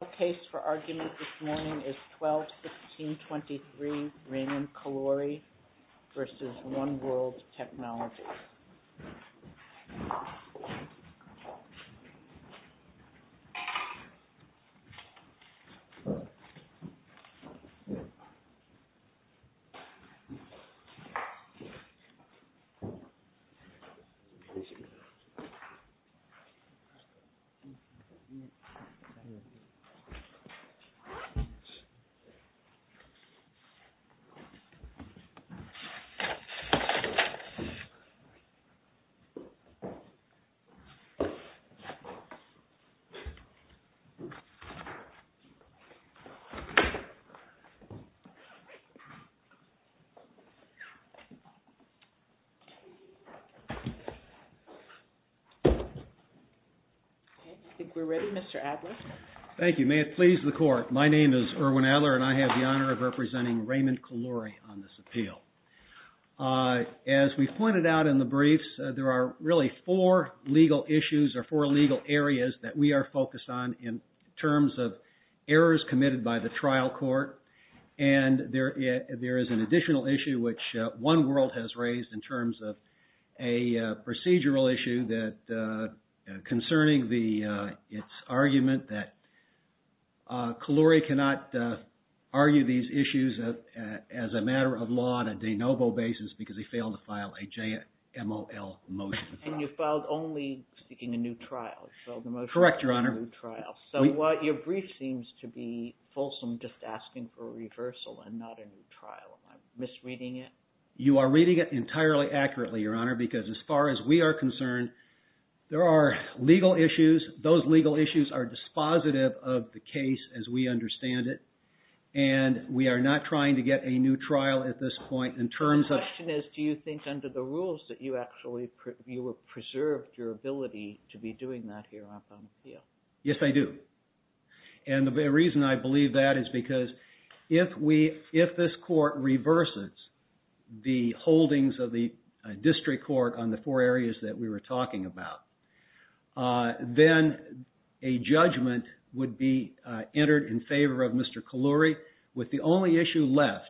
The case for argument this morning is 12-16-23 Raymond Caluori v. One World Technologies. I think we're ready, Mr. Adler. Thank you. May it please the court. My name is Erwin Adler and I have the honor of representing Raymond Caluori on this appeal. As we pointed out in the briefs, there are really four legal issues or four legal areas that we are focused on in terms of errors committed by the trial court. And there is an additional issue which One World has raised in terms of a procedural issue concerning its argument that Caluori cannot argue these issues as a matter of law on a de novo basis because he failed to file a JMOL motion. And you filed only seeking a new trial. Correct, Your Honor. So your brief seems to be fulsome just asking for a reversal and not a new trial. Am I misreading it? You are reading it entirely accurately, Your Honor, because as far as we are concerned, there are legal issues. Those legal issues are dispositive of the case as we understand it. And we are not trying to get a new trial at this point in terms of... The question is, do you think under the rules that you actually preserved your ability to be doing that here on the appeal? Yes, I do. And the reason I believe that is because if this court reverses the holdings of the district court on the four areas that we were talking about, then a judgment would be entered in favor of Mr. Caluori with the only issue left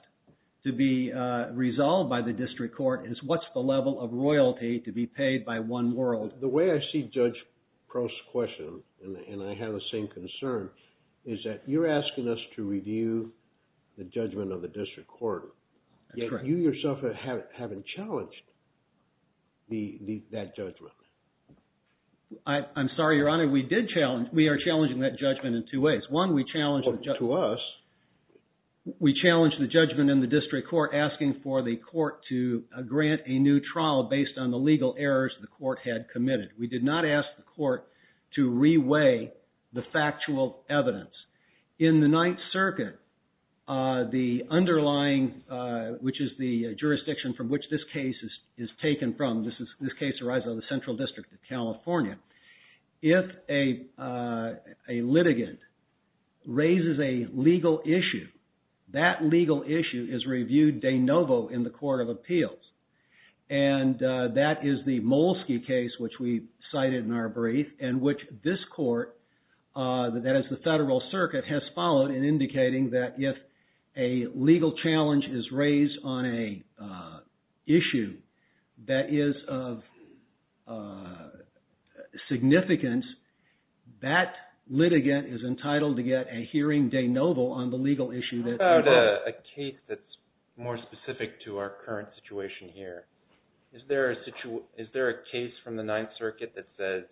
to be resolved by the district court is what's the level of royalty to be paid by One World. The way I see Judge Prost's question, and I have the same concern, is that you're asking us to review the judgment of the district court, yet you yourself haven't challenged that judgment. I'm sorry, Your Honor, we are challenging that judgment in two ways. One, we challenged the judgment in the district court asking for the court to grant a new trial based on the legal errors the court had committed. We did not ask the court to re-weigh the factual evidence. In the Ninth Circuit, the underlying, which is the jurisdiction from which this case is taken from, this case arises out of the Central District of California. If a litigant raises a legal issue, that legal issue is reviewed de novo in the Court of Appeals. And that is the Molesky case, which we cited in our brief, and which this court, that is the Federal Circuit, has followed in indicating that if a legal challenge is raised on an issue that is of serious concern, of significance, that litigant is entitled to get a hearing de novo on the legal issue that they raised. I have a case that's more specific to our current situation here. Is there a case from the Ninth Circuit that says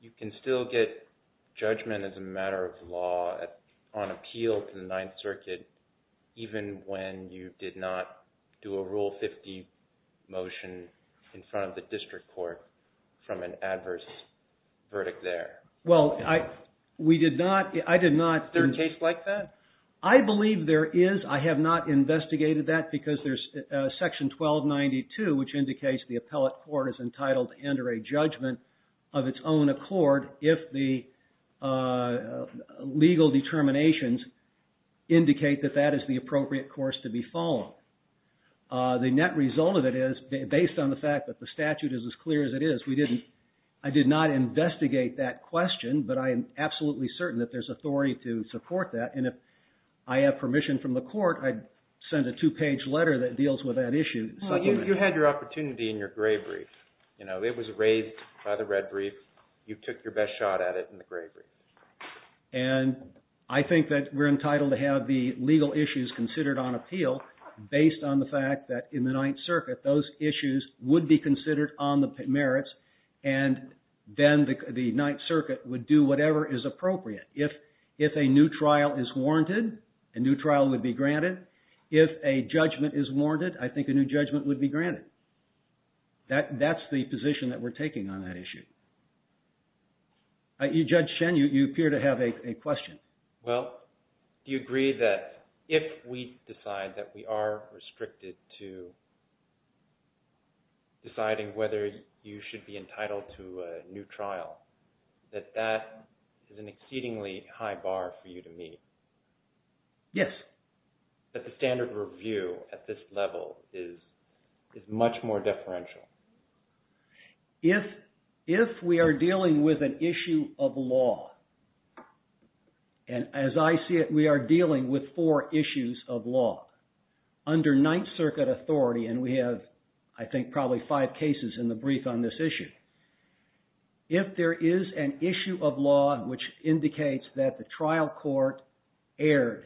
you can still get judgment as a matter of law on appeal to the Ninth Circuit even when you did not do a Rule 50 motion in front of the district court from an adverse verdict there? Is there a case like that? I believe there is. I have not investigated that because there's Section 1292, which indicates the appellate court is entitled to enter a judgment of its own accord if the legal determinations indicate that that is the appropriate course to be followed. The net result of it is, based on the fact that the statute is as clear as it is, I did not investigate that question, but I am absolutely certain that there's authority to support that. And if I have permission from the court, I'd send a two-page letter that deals with that issue. So you had your opportunity in your gray brief. It was raised by the red brief. You took your best shot at it in the gray brief. And I think that we're entitled to have the legal issues considered on appeal based on the fact that in the Ninth Circuit those issues would be considered on the merits, and then the Ninth Circuit would do whatever is appropriate. If a new trial is warranted, a new trial would be granted. If a judgment is warranted, I think a new judgment would be granted. That's the position that we're taking on that issue. Judge Shen, you appear to have a question. Well, do you agree that if we decide that we are restricted to deciding whether you should be entitled to a new trial, that that is an exceedingly high bar for you to meet? Yes. That the standard review at this level is much more deferential? If we are dealing with an issue of law, and as I see it, we are dealing with four issues of law under Ninth Circuit authority, and we have, I think, probably five cases in the brief on this issue. If there is an issue of law which indicates that the trial court erred,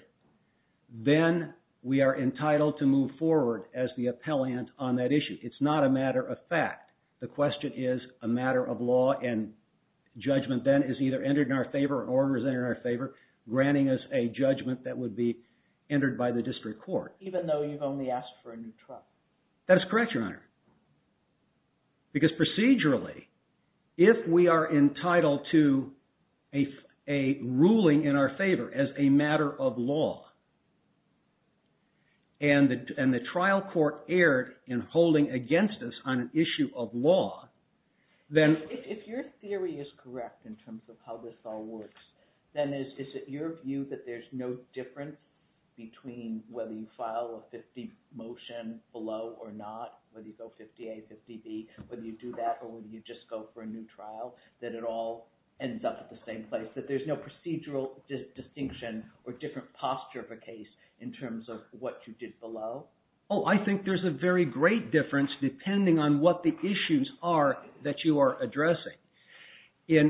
then we are entitled to move forward as the appellant on that issue. It's not a matter of fact. The question is a matter of law, and judgment then is either entered in our favor or is entered in our favor, granting us a judgment that would be entered by the district court. Even though you've only asked for a new trial? That is correct, Your Honor, because procedurally, if we are entitled to a ruling in our favor as a matter of law, and the trial court erred in holding against us on an issue of law, then… If your theory is correct in terms of how this all works, then is it your view that there's no difference between whether you file a 50 motion below or not, whether you go 50A, 50B, whether you do that or whether you just go for a new trial, that it all ends up at the same place, that there's no procedural distinction or different posture of a case in terms of what you did below? Oh, I think there's a very great difference depending on what the issues are that you are addressing. You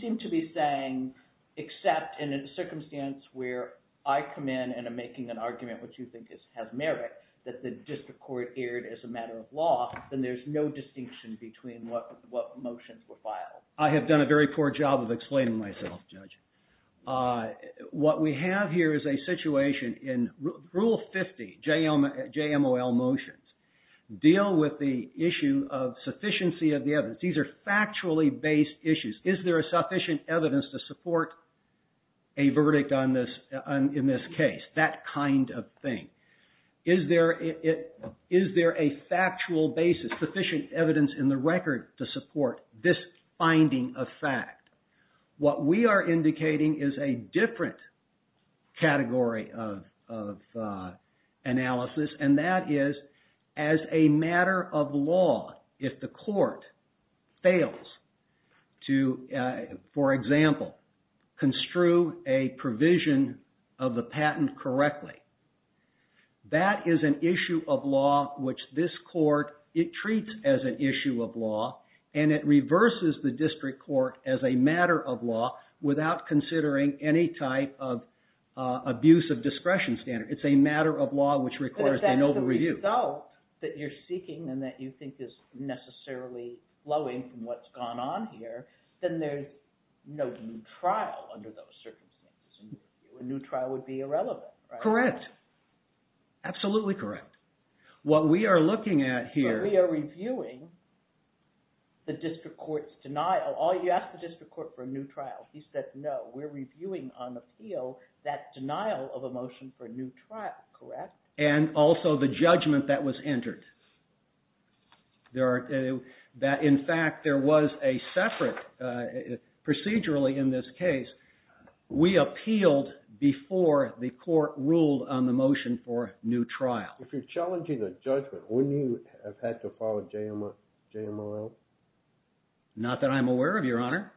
seem to be saying, except in a circumstance where I come in and am making an argument which you think has merit, that the district court erred as a matter of law, then there's no distinction between what motions were filed. I have done a very poor job of explaining myself, Judge. What we have here is a situation in Rule 50, JMOL motions, deal with the issue of sufficiency of the evidence. These are factually based issues. Is there a sufficient evidence to support a verdict in this case? That kind of thing. Is there a factual basis, sufficient evidence in the record to support this finding of fact? What we are indicating is a different category of analysis, and that is as a matter of law, if the court fails to, for example, construe a provision of the patent correctly, that is an issue of law which this court, it treats as an issue of law, and it reverses the district court as a matter of law without considering any type of abuse of discretion standard. It's a matter of law which requires an over-review. But if that's the result that you're seeking and that you think is necessarily flowing from what's gone on here, then there's no new trial under those circumstances. A new trial would be irrelevant, right? Correct. Absolutely correct. What we are looking at here… We are reviewing the district court's denial. You asked the district court for a new trial. He said, no, we're reviewing on the field that denial of a motion for a new trial, correct? And also the judgment that was entered. In fact, there was a separate, procedurally in this case, we appealed before the court ruled on the motion for a new trial. If you're challenging the judgment, wouldn't you have had to follow JMOL? Not that I'm aware of, Your Honor.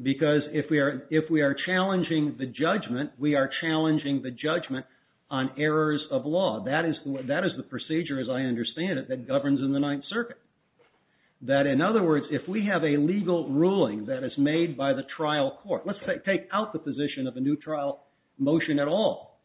Because if we are challenging the judgment, we are challenging the judgment on errors of law. That is the procedure, as I understand it, that governs in the Ninth Circuit. That in other words, if we have a legal ruling that is made by the trial court, let's take out the position of a new trial motion at all.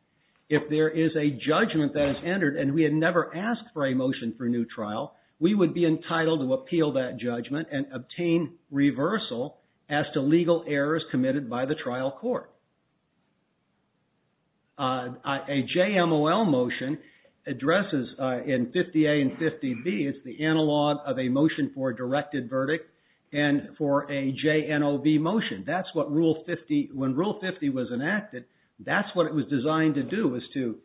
If there is a judgment that is entered and we had never asked for a motion for a new trial, we would be entitled to appeal that judgment and obtain reversal as to legal errors committed by the trial court. A JMOL motion addresses in 50A and 50B, it's the analog of a motion for a directed verdict and for a JNOB motion. That's what Rule 50, when Rule 50 was enacted, that's what it was designed to do, was to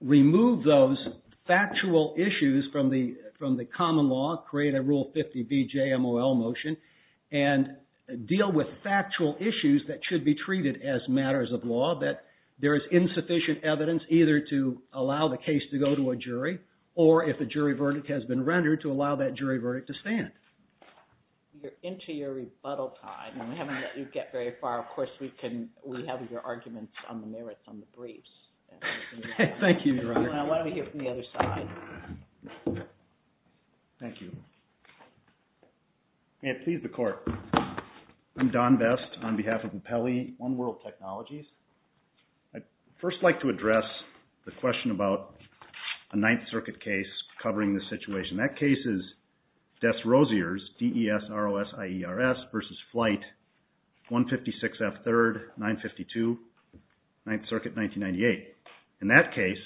remove those factual issues from the common law, create a Rule 50B JMOL motion, and deal with factual issues that should be treated as matters of law, that there is insufficient evidence either to allow the case to go to a jury, or if a jury verdict has been rendered, to allow that jury verdict to stand. You're into your rebuttal time, and we haven't let you get very far. Of course, we have your arguments on the merits on the briefs. Thank you, Your Honor. Why don't we hear from the other side? Thank you. May it please the Court. I'm Don Best on behalf of Appelli One World Technologies. I'd first like to address the question about a Ninth Circuit case covering this situation. That case is Dess-Rosiers, D-E-S-R-O-S-I-E-R-S, versus Flight 156F3rd, 952, Ninth Circuit, 1998. In that case,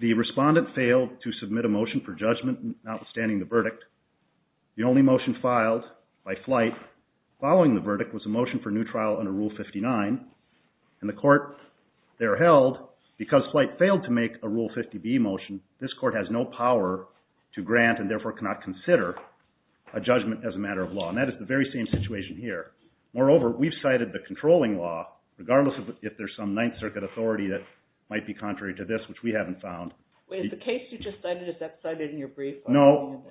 the respondent failed to submit a motion for judgment notwithstanding the verdict. The only motion filed by Flight following the verdict was a motion for new trial under Rule 59, and the Court there held, because Flight failed to make a Rule 50B motion, this Court has no power to grant and therefore cannot consider a judgment as a matter of law. And that is the very same situation here. Moreover, we've cited the controlling law, regardless if there's some Ninth Circuit authority that might be contrary to this, which we haven't found. Wait, is the case you just cited, is that cited in your brief? No.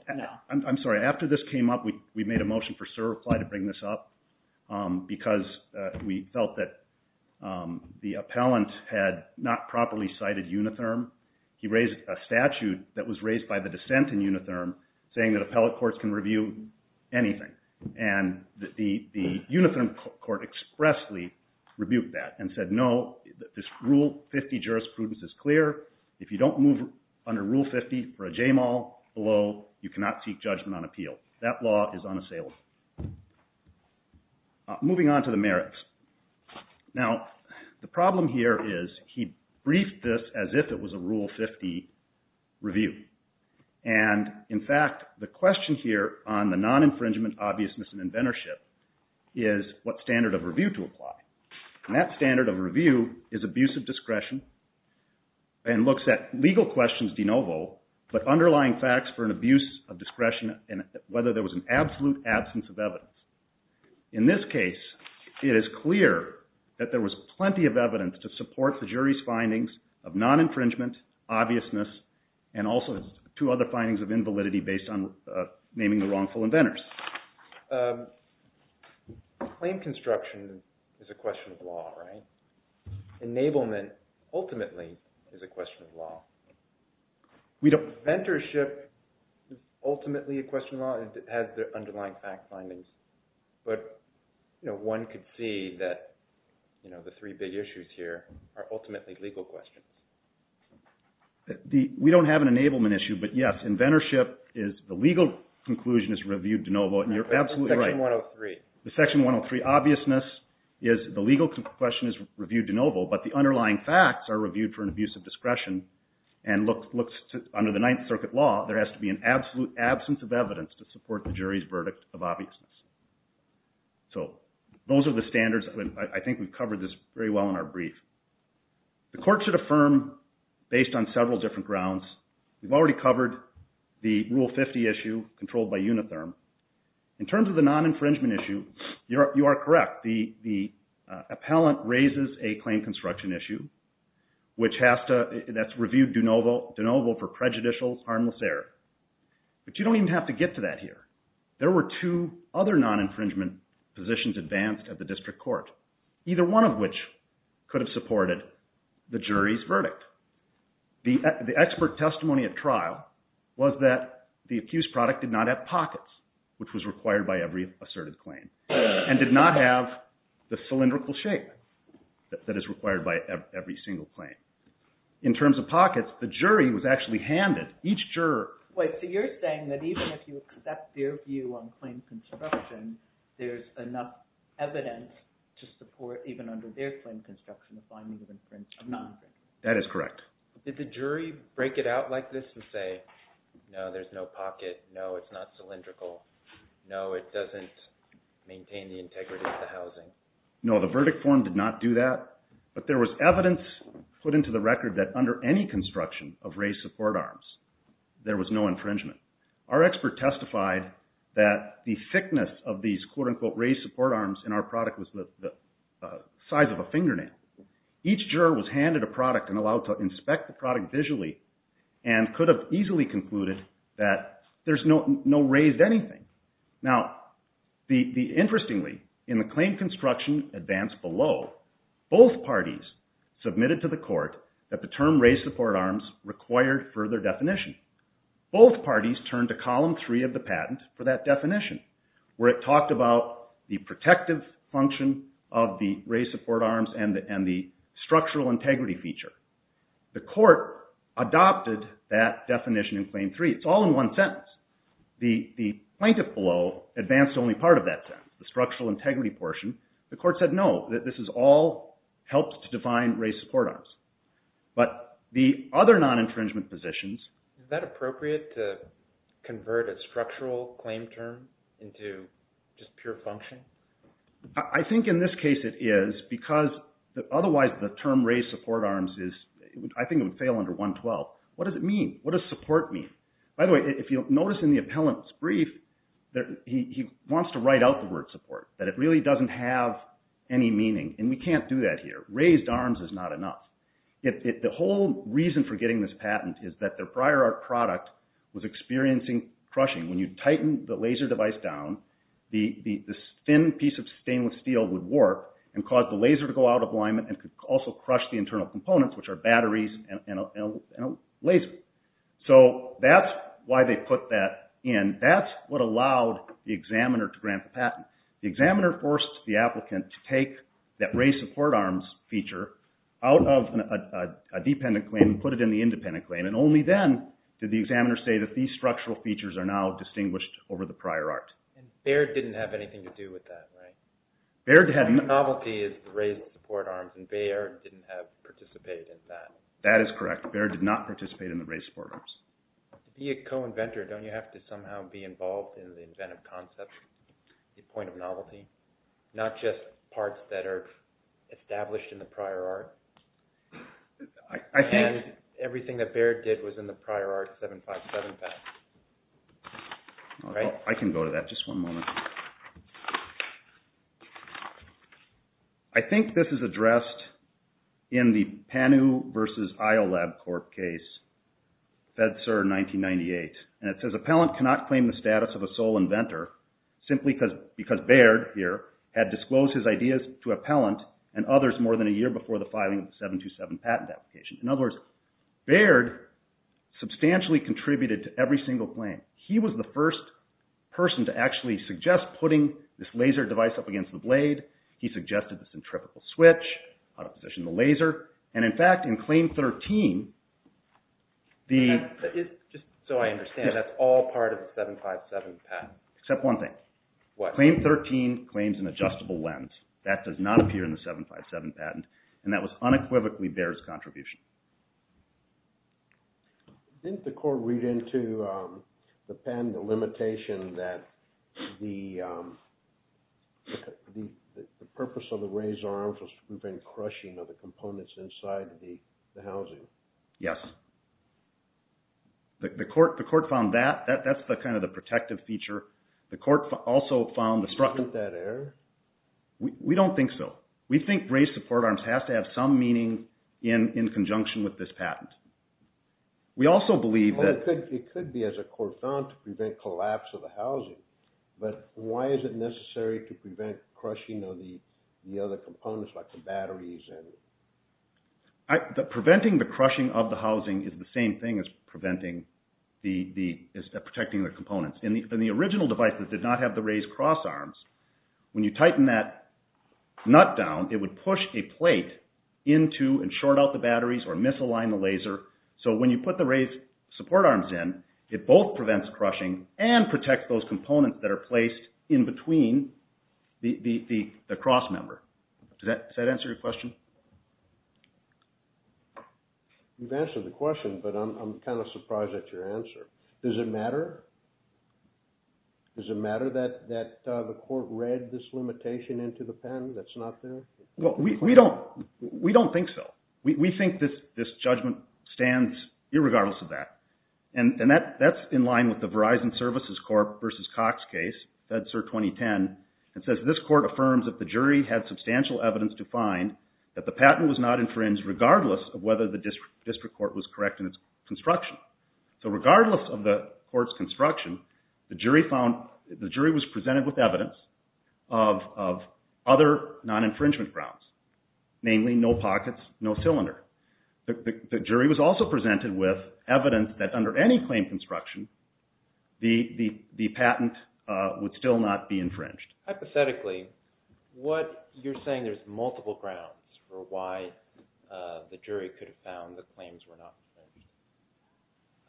I'm sorry. After this came up, we made a motion for certify to bring this up, because we felt that the appellant had not properly cited unitherm. He raised a statute that was raised by the dissent in unitherm, saying that appellate courts can review anything. And the unitherm court expressly rebuked that and said, no, this Rule 50 jurisprudence is clear. If you don't move under Rule 50 for a JMAL below, you cannot seek judgment on appeal. That law is unassailable. Moving on to the merits. Now, the problem here is he briefed this as if it was a Rule 50 review. And, in fact, the question here on the non-infringement obviousness and inventorship is what standard of review to apply. And that standard of review is abuse of discretion and looks at legal questions de novo, but underlying facts for an abuse of discretion and whether there was an absolute absence of evidence. In this case, it is clear that there was plenty of evidence to support the jury's findings of non-infringement, obviousness, and also two other findings of invalidity based on naming the wrongful inventors. Claim construction is a question of law, right? Enablement, ultimately, is a question of law. Inventorship is ultimately a question of law. It has the underlying fact findings. But one could see that the three big issues here are ultimately legal questions. We don't have an enablement issue, but yes, inventorship is the legal conclusion is reviewed de novo. And you're absolutely right. Section 103. But the underlying facts are reviewed for an abuse of discretion and under the Ninth Circuit law, there has to be an absolute absence of evidence to support the jury's verdict of obviousness. So those are the standards. I think we've covered this very well in our brief. The court should affirm based on several different grounds. We've already covered the Rule 50 issue controlled by Unitherm. In terms of the non-infringement issue, you are correct. The appellant raises a claim construction issue that's reviewed de novo for prejudicial, harmless error. But you don't even have to get to that here. There were two other non-infringement positions advanced at the district court, either one of which could have supported the jury's verdict. The expert testimony at trial was that the accused product did not have pockets, which was required by every asserted claim, and did not have the cylindrical shape that is required by every single claim. In terms of pockets, the jury was actually handed each juror. Wait, so you're saying that even if you accept their view on claim construction, there's enough evidence to support even under their claim construction, the findings of infringement of non-infringement. That is correct. Did the jury break it out like this and say, no, there's no pocket, no, it's not cylindrical, no, it doesn't maintain the integrity of the housing? No, the verdict form did not do that, but there was evidence put into the record that under any construction of raised support arms, there was no infringement. Our expert testified that the thickness of these quote-unquote raised support arms in our product was the size of a fingernail. Each juror was handed a product and allowed to inspect the product visually and could have easily concluded that there's no raised anything. Now, interestingly, in the claim construction advance below, both parties submitted to the court that the term raised support arms required further definition. Both parties turned to column three of the patent for that definition, where it talked about the protective function of the raised support arms and the structural integrity feature. The court adopted that definition in claim three. It's all in one sentence. The plaintiff below advanced only part of that sentence, the structural integrity portion. The court said no, that this all helps to define raised support arms. But the other non-infringement positions… Is that appropriate to convert a structural claim term into just pure function? I think in this case it is, because otherwise the term raised support arms is… I think it would fail under 112. What does it mean? What does support mean? By the way, if you'll notice in the appellant's brief, he wants to write out the word support, that it really doesn't have any meaning, and we can't do that here. Raised arms is not enough. The whole reason for getting this patent is that their prior art product was experiencing crushing. When you tighten the laser device down, the thin piece of stainless steel would warp and cause the laser to go out of alignment and could also crush the internal components, which are batteries and a laser. So that's why they put that in. That's what allowed the examiner to grant the patent. The examiner forced the applicant to take that raised support arms feature out of a dependent claim and put it in the independent claim. Only then did the examiner say that these structural features are now distinguished over the prior art. Baird didn't have anything to do with that, right? Novelty is the raised support arms, and Baird didn't participate in that. That is correct. Baird did not participate in the raised support arms. To be a co-inventor, don't you have to somehow be involved in the inventive concept, the point of novelty? Not just parts that are established in the prior art? Everything that Baird did was in the prior art 757. I can go to that, just one moment. I think this is addressed in the Panu versus IOLAB Corp case, FEDSER 1998. It says, Appellant cannot claim the status of a sole inventor simply because Baird, here, had disclosed his ideas to Appellant and others more than a year before the filing of the 727 patent application. In other words, Baird substantially contributed to every single claim. He was the first person to actually suggest putting this laser device up against the blade. He suggested the centrifugal switch, how to position the laser. In fact, in Claim 13, the... Just so I understand, that's all part of the 757 patent? Except one thing. What? Claim 13 claims an adjustable lens. That does not appear in the 757 patent. And that was unequivocally Baird's contribution. Didn't the court read into the patent, the limitation that the purpose of the razor arm was to prevent crushing of the components inside the housing? Yes. The court found that. That's kind of the protective feature. The court also found the structure... Isn't that error? We don't think so. We think raised support arms have to have some meaning in conjunction with this patent. We also believe that... It could be, as the court found, to prevent collapse of the housing. But why is it necessary to prevent crushing of the other components like the batteries and... Preventing the crushing of the housing is the same thing as protecting the components. In the original device that did not have the raised cross arms, when you tighten that nut down, it would push a plate into and short out the batteries or misalign the laser. So when you put the raised support arms in, it both prevents crushing and protects those components that are placed in between the cross member. Does that answer your question? You've answered the question, but I'm kind of surprised at your answer. Does it matter? Does it matter that the court read this limitation into the patent that's not there? We don't think so. We think this judgment stands irregardless of that. And that's in line with the Verizon Services Corp. v. Cox case, FEDSER 2010. It says, this court affirms that the jury had substantial evidence to find that the patent was not infringed regardless of whether the district court was correct in its construction. So regardless of the court's construction, the jury was presented with evidence of other non-infringement grounds, namely no pockets, no cylinder. The jury was also presented with evidence that under any claim construction, the patent would still not be infringed. Hypothetically, you're saying there's multiple grounds for why the jury could have found that claims were not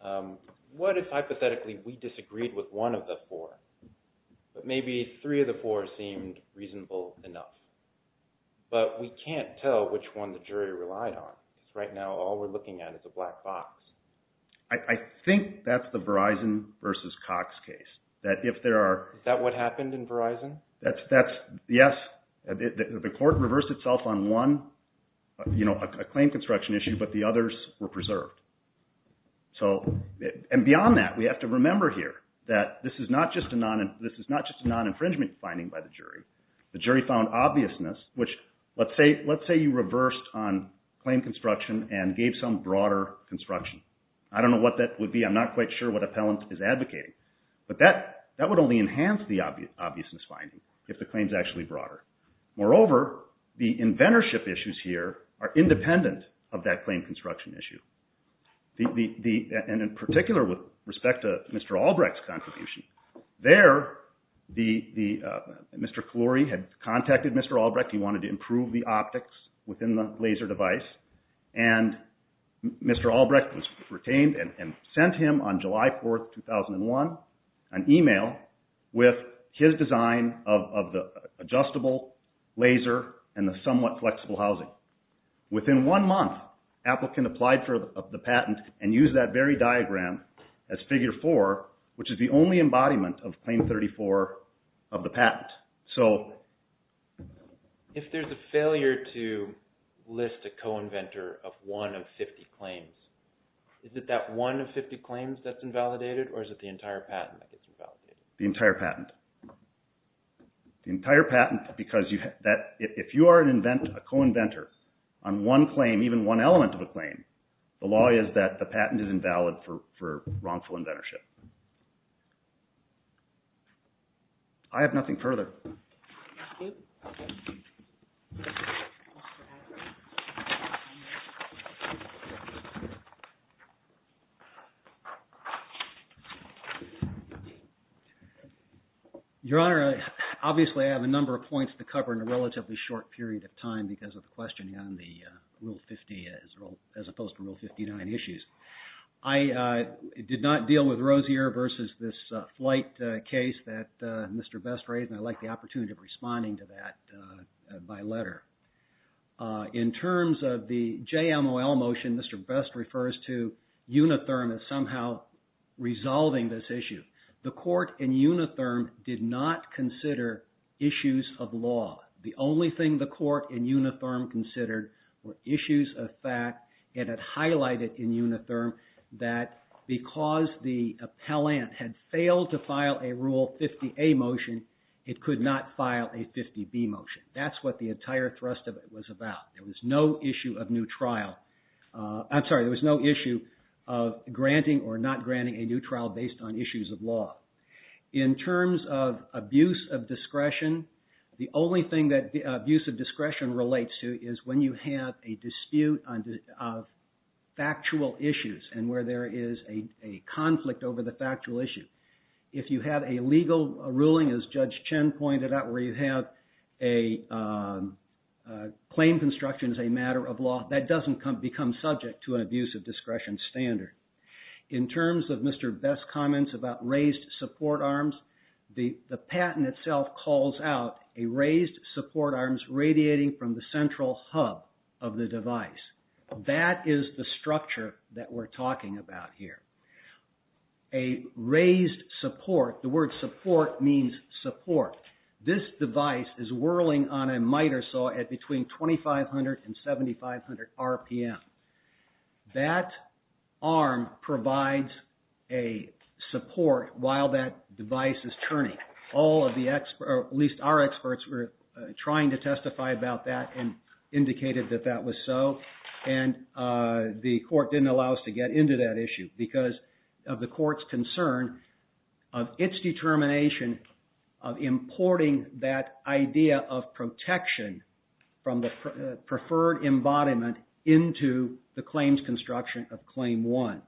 infringed. What if, hypothetically, we disagreed with one of the four, but maybe three of the four seemed reasonable enough? But we can't tell which one the jury relied on. Right now, all we're looking at is a black box. I think that's the Verizon v. Cox case. Is that what happened in Verizon? Yes. The court reversed itself on one, a claim construction issue, but the others were preserved. And beyond that, we have to remember here that this is not just a non-infringement finding by the jury. The jury found obviousness, which let's say you reversed on claim construction and gave some broader construction. I don't know what that would be. I'm not quite sure what appellant is advocating. But that would only enhance the obviousness finding if the claim is actually broader. Moreover, the inventorship issues here are independent of that claim construction issue. And in particular, with respect to Mr. Albrecht's contribution, there, Mr. Clorey had contacted Mr. Albrecht. He wanted to improve the optics within the laser device. And Mr. Albrecht was retained and sent him on July 4, 2001, an email with his design of the adjustable laser and the somewhat flexible housing. Within one month, applicant applied for the patent and used that very diagram as figure four, which is the only embodiment of claim 34 of the patent. So if there's a failure to list a co-inventor of one of 50 claims, is it that one of 50 claims that's invalidated or is it the entire patent that gets invalidated? The entire patent. The entire patent because if you are a co-inventor on one claim, even one element of a claim, the law is that the patent is invalid for wrongful inventorship. I have nothing further. Your Honor, obviously I have a number of points to cover in a relatively short period of time because of the questioning on the Rule 50 as opposed to Rule 59 issues. I did not deal with Rozier versus this flight case that Mr. Best raised and I'd like the opportunity of responding to that by letter. In terms of the JMOL motion, Mr. Best refers to Unitherm as somehow resolving this issue. The court in Unitherm did not consider issues of law. The only thing the court in Unitherm considered were issues of fact and it highlighted in Unitherm that because the appellant had failed to file a Rule 50A motion, it could not file a 50B motion. That's what the entire thrust of it was about. There was no issue of granting or not granting a new trial based on issues of law. In terms of abuse of discretion, the only thing that abuse of discretion relates to is when you have a dispute of factual issues and where there is a conflict over the factual issue. If you have a legal ruling, as Judge Chen pointed out, where you have a claim construction as a matter of law, that doesn't become subject to an abuse of discretion standard. In terms of Mr. Best's comments about raised support arms, the patent itself calls out a raised support arms radiating from the central hub of the device. That is the structure that we're talking about here. A raised support, the word support means support. This device is whirling on a miter saw at between 2,500 and 7,500 RPM. That arm provides a support while that device is turning. All of the experts, at least our experts, were trying to testify about that and indicated that that was so and the court didn't allow us to get into that issue because of the court's concern of its determination of importing that idea of protection from the preferred embodiment into the claims construction of Claim 1.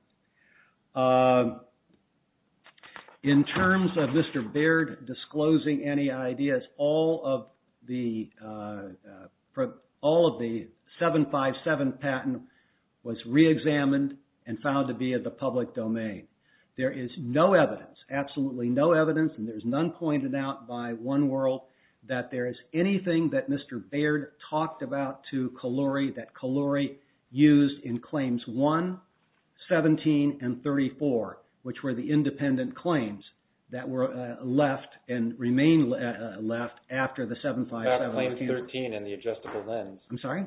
In terms of Mr. Baird disclosing any ideas, all of the 757 patent was re-examined and found to be of the public domain. There is no evidence, absolutely no evidence, and there's none pointed out by One World, that there is anything that Mr. Baird talked about to Kahloury that Kahloury used in Claims 1, 17, and 34, which were the independent claims that were left and remain left after the 757. About Claim 13 and the adjustable lens. I'm sorry?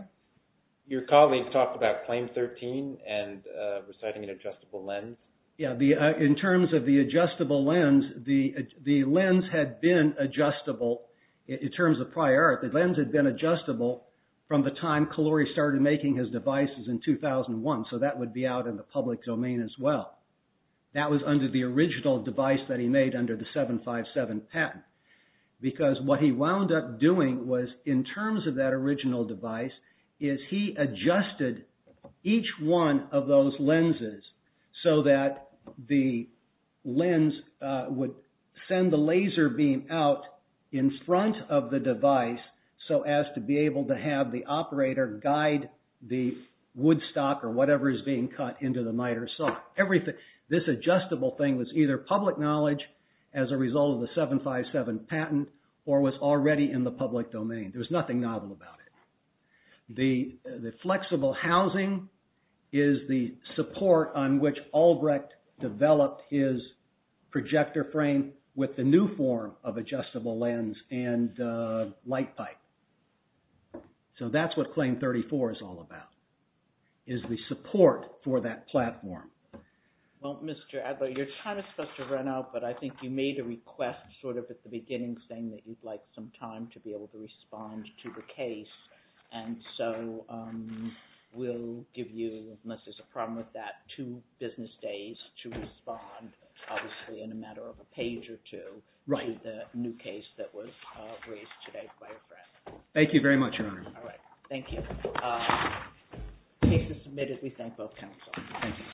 Your colleague talked about Claim 13 and reciting an adjustable lens. In terms of the adjustable lens, the lens had been adjustable in terms of prior art. The lens had been adjustable from the time Kahloury started making his devices in 2001, so that would be out in the public domain as well. That was under the original device that he made under the 757 patent because what he wound up doing was, in terms of that original device, is he adjusted each one of those lenses so that the lens would send the laser beam out in front of the device so as to be able to have the operator guide the woodstock or whatever is being cut into the miter saw. This adjustable thing was either public knowledge as a result of the 757 patent or was already in the public domain. There was nothing novel about it. The flexible housing is the support on which Albrecht developed his projector frame with the new form of adjustable lens and light pipe. So that's what Claim 34 is all about, is the support for that platform. Well, Mr. Adler, you're kind of supposed to run out, but I think you made a request sort of at the beginning saying that you'd like some time to be able to respond to the case, and so we'll give you, unless there's a problem with that, two business days to respond, obviously in a matter of a page or two, to the new case that was raised today by your friend. Thank you very much, Your Honor. All right. Thank you. The case is submitted. We thank both counsel. Thank you.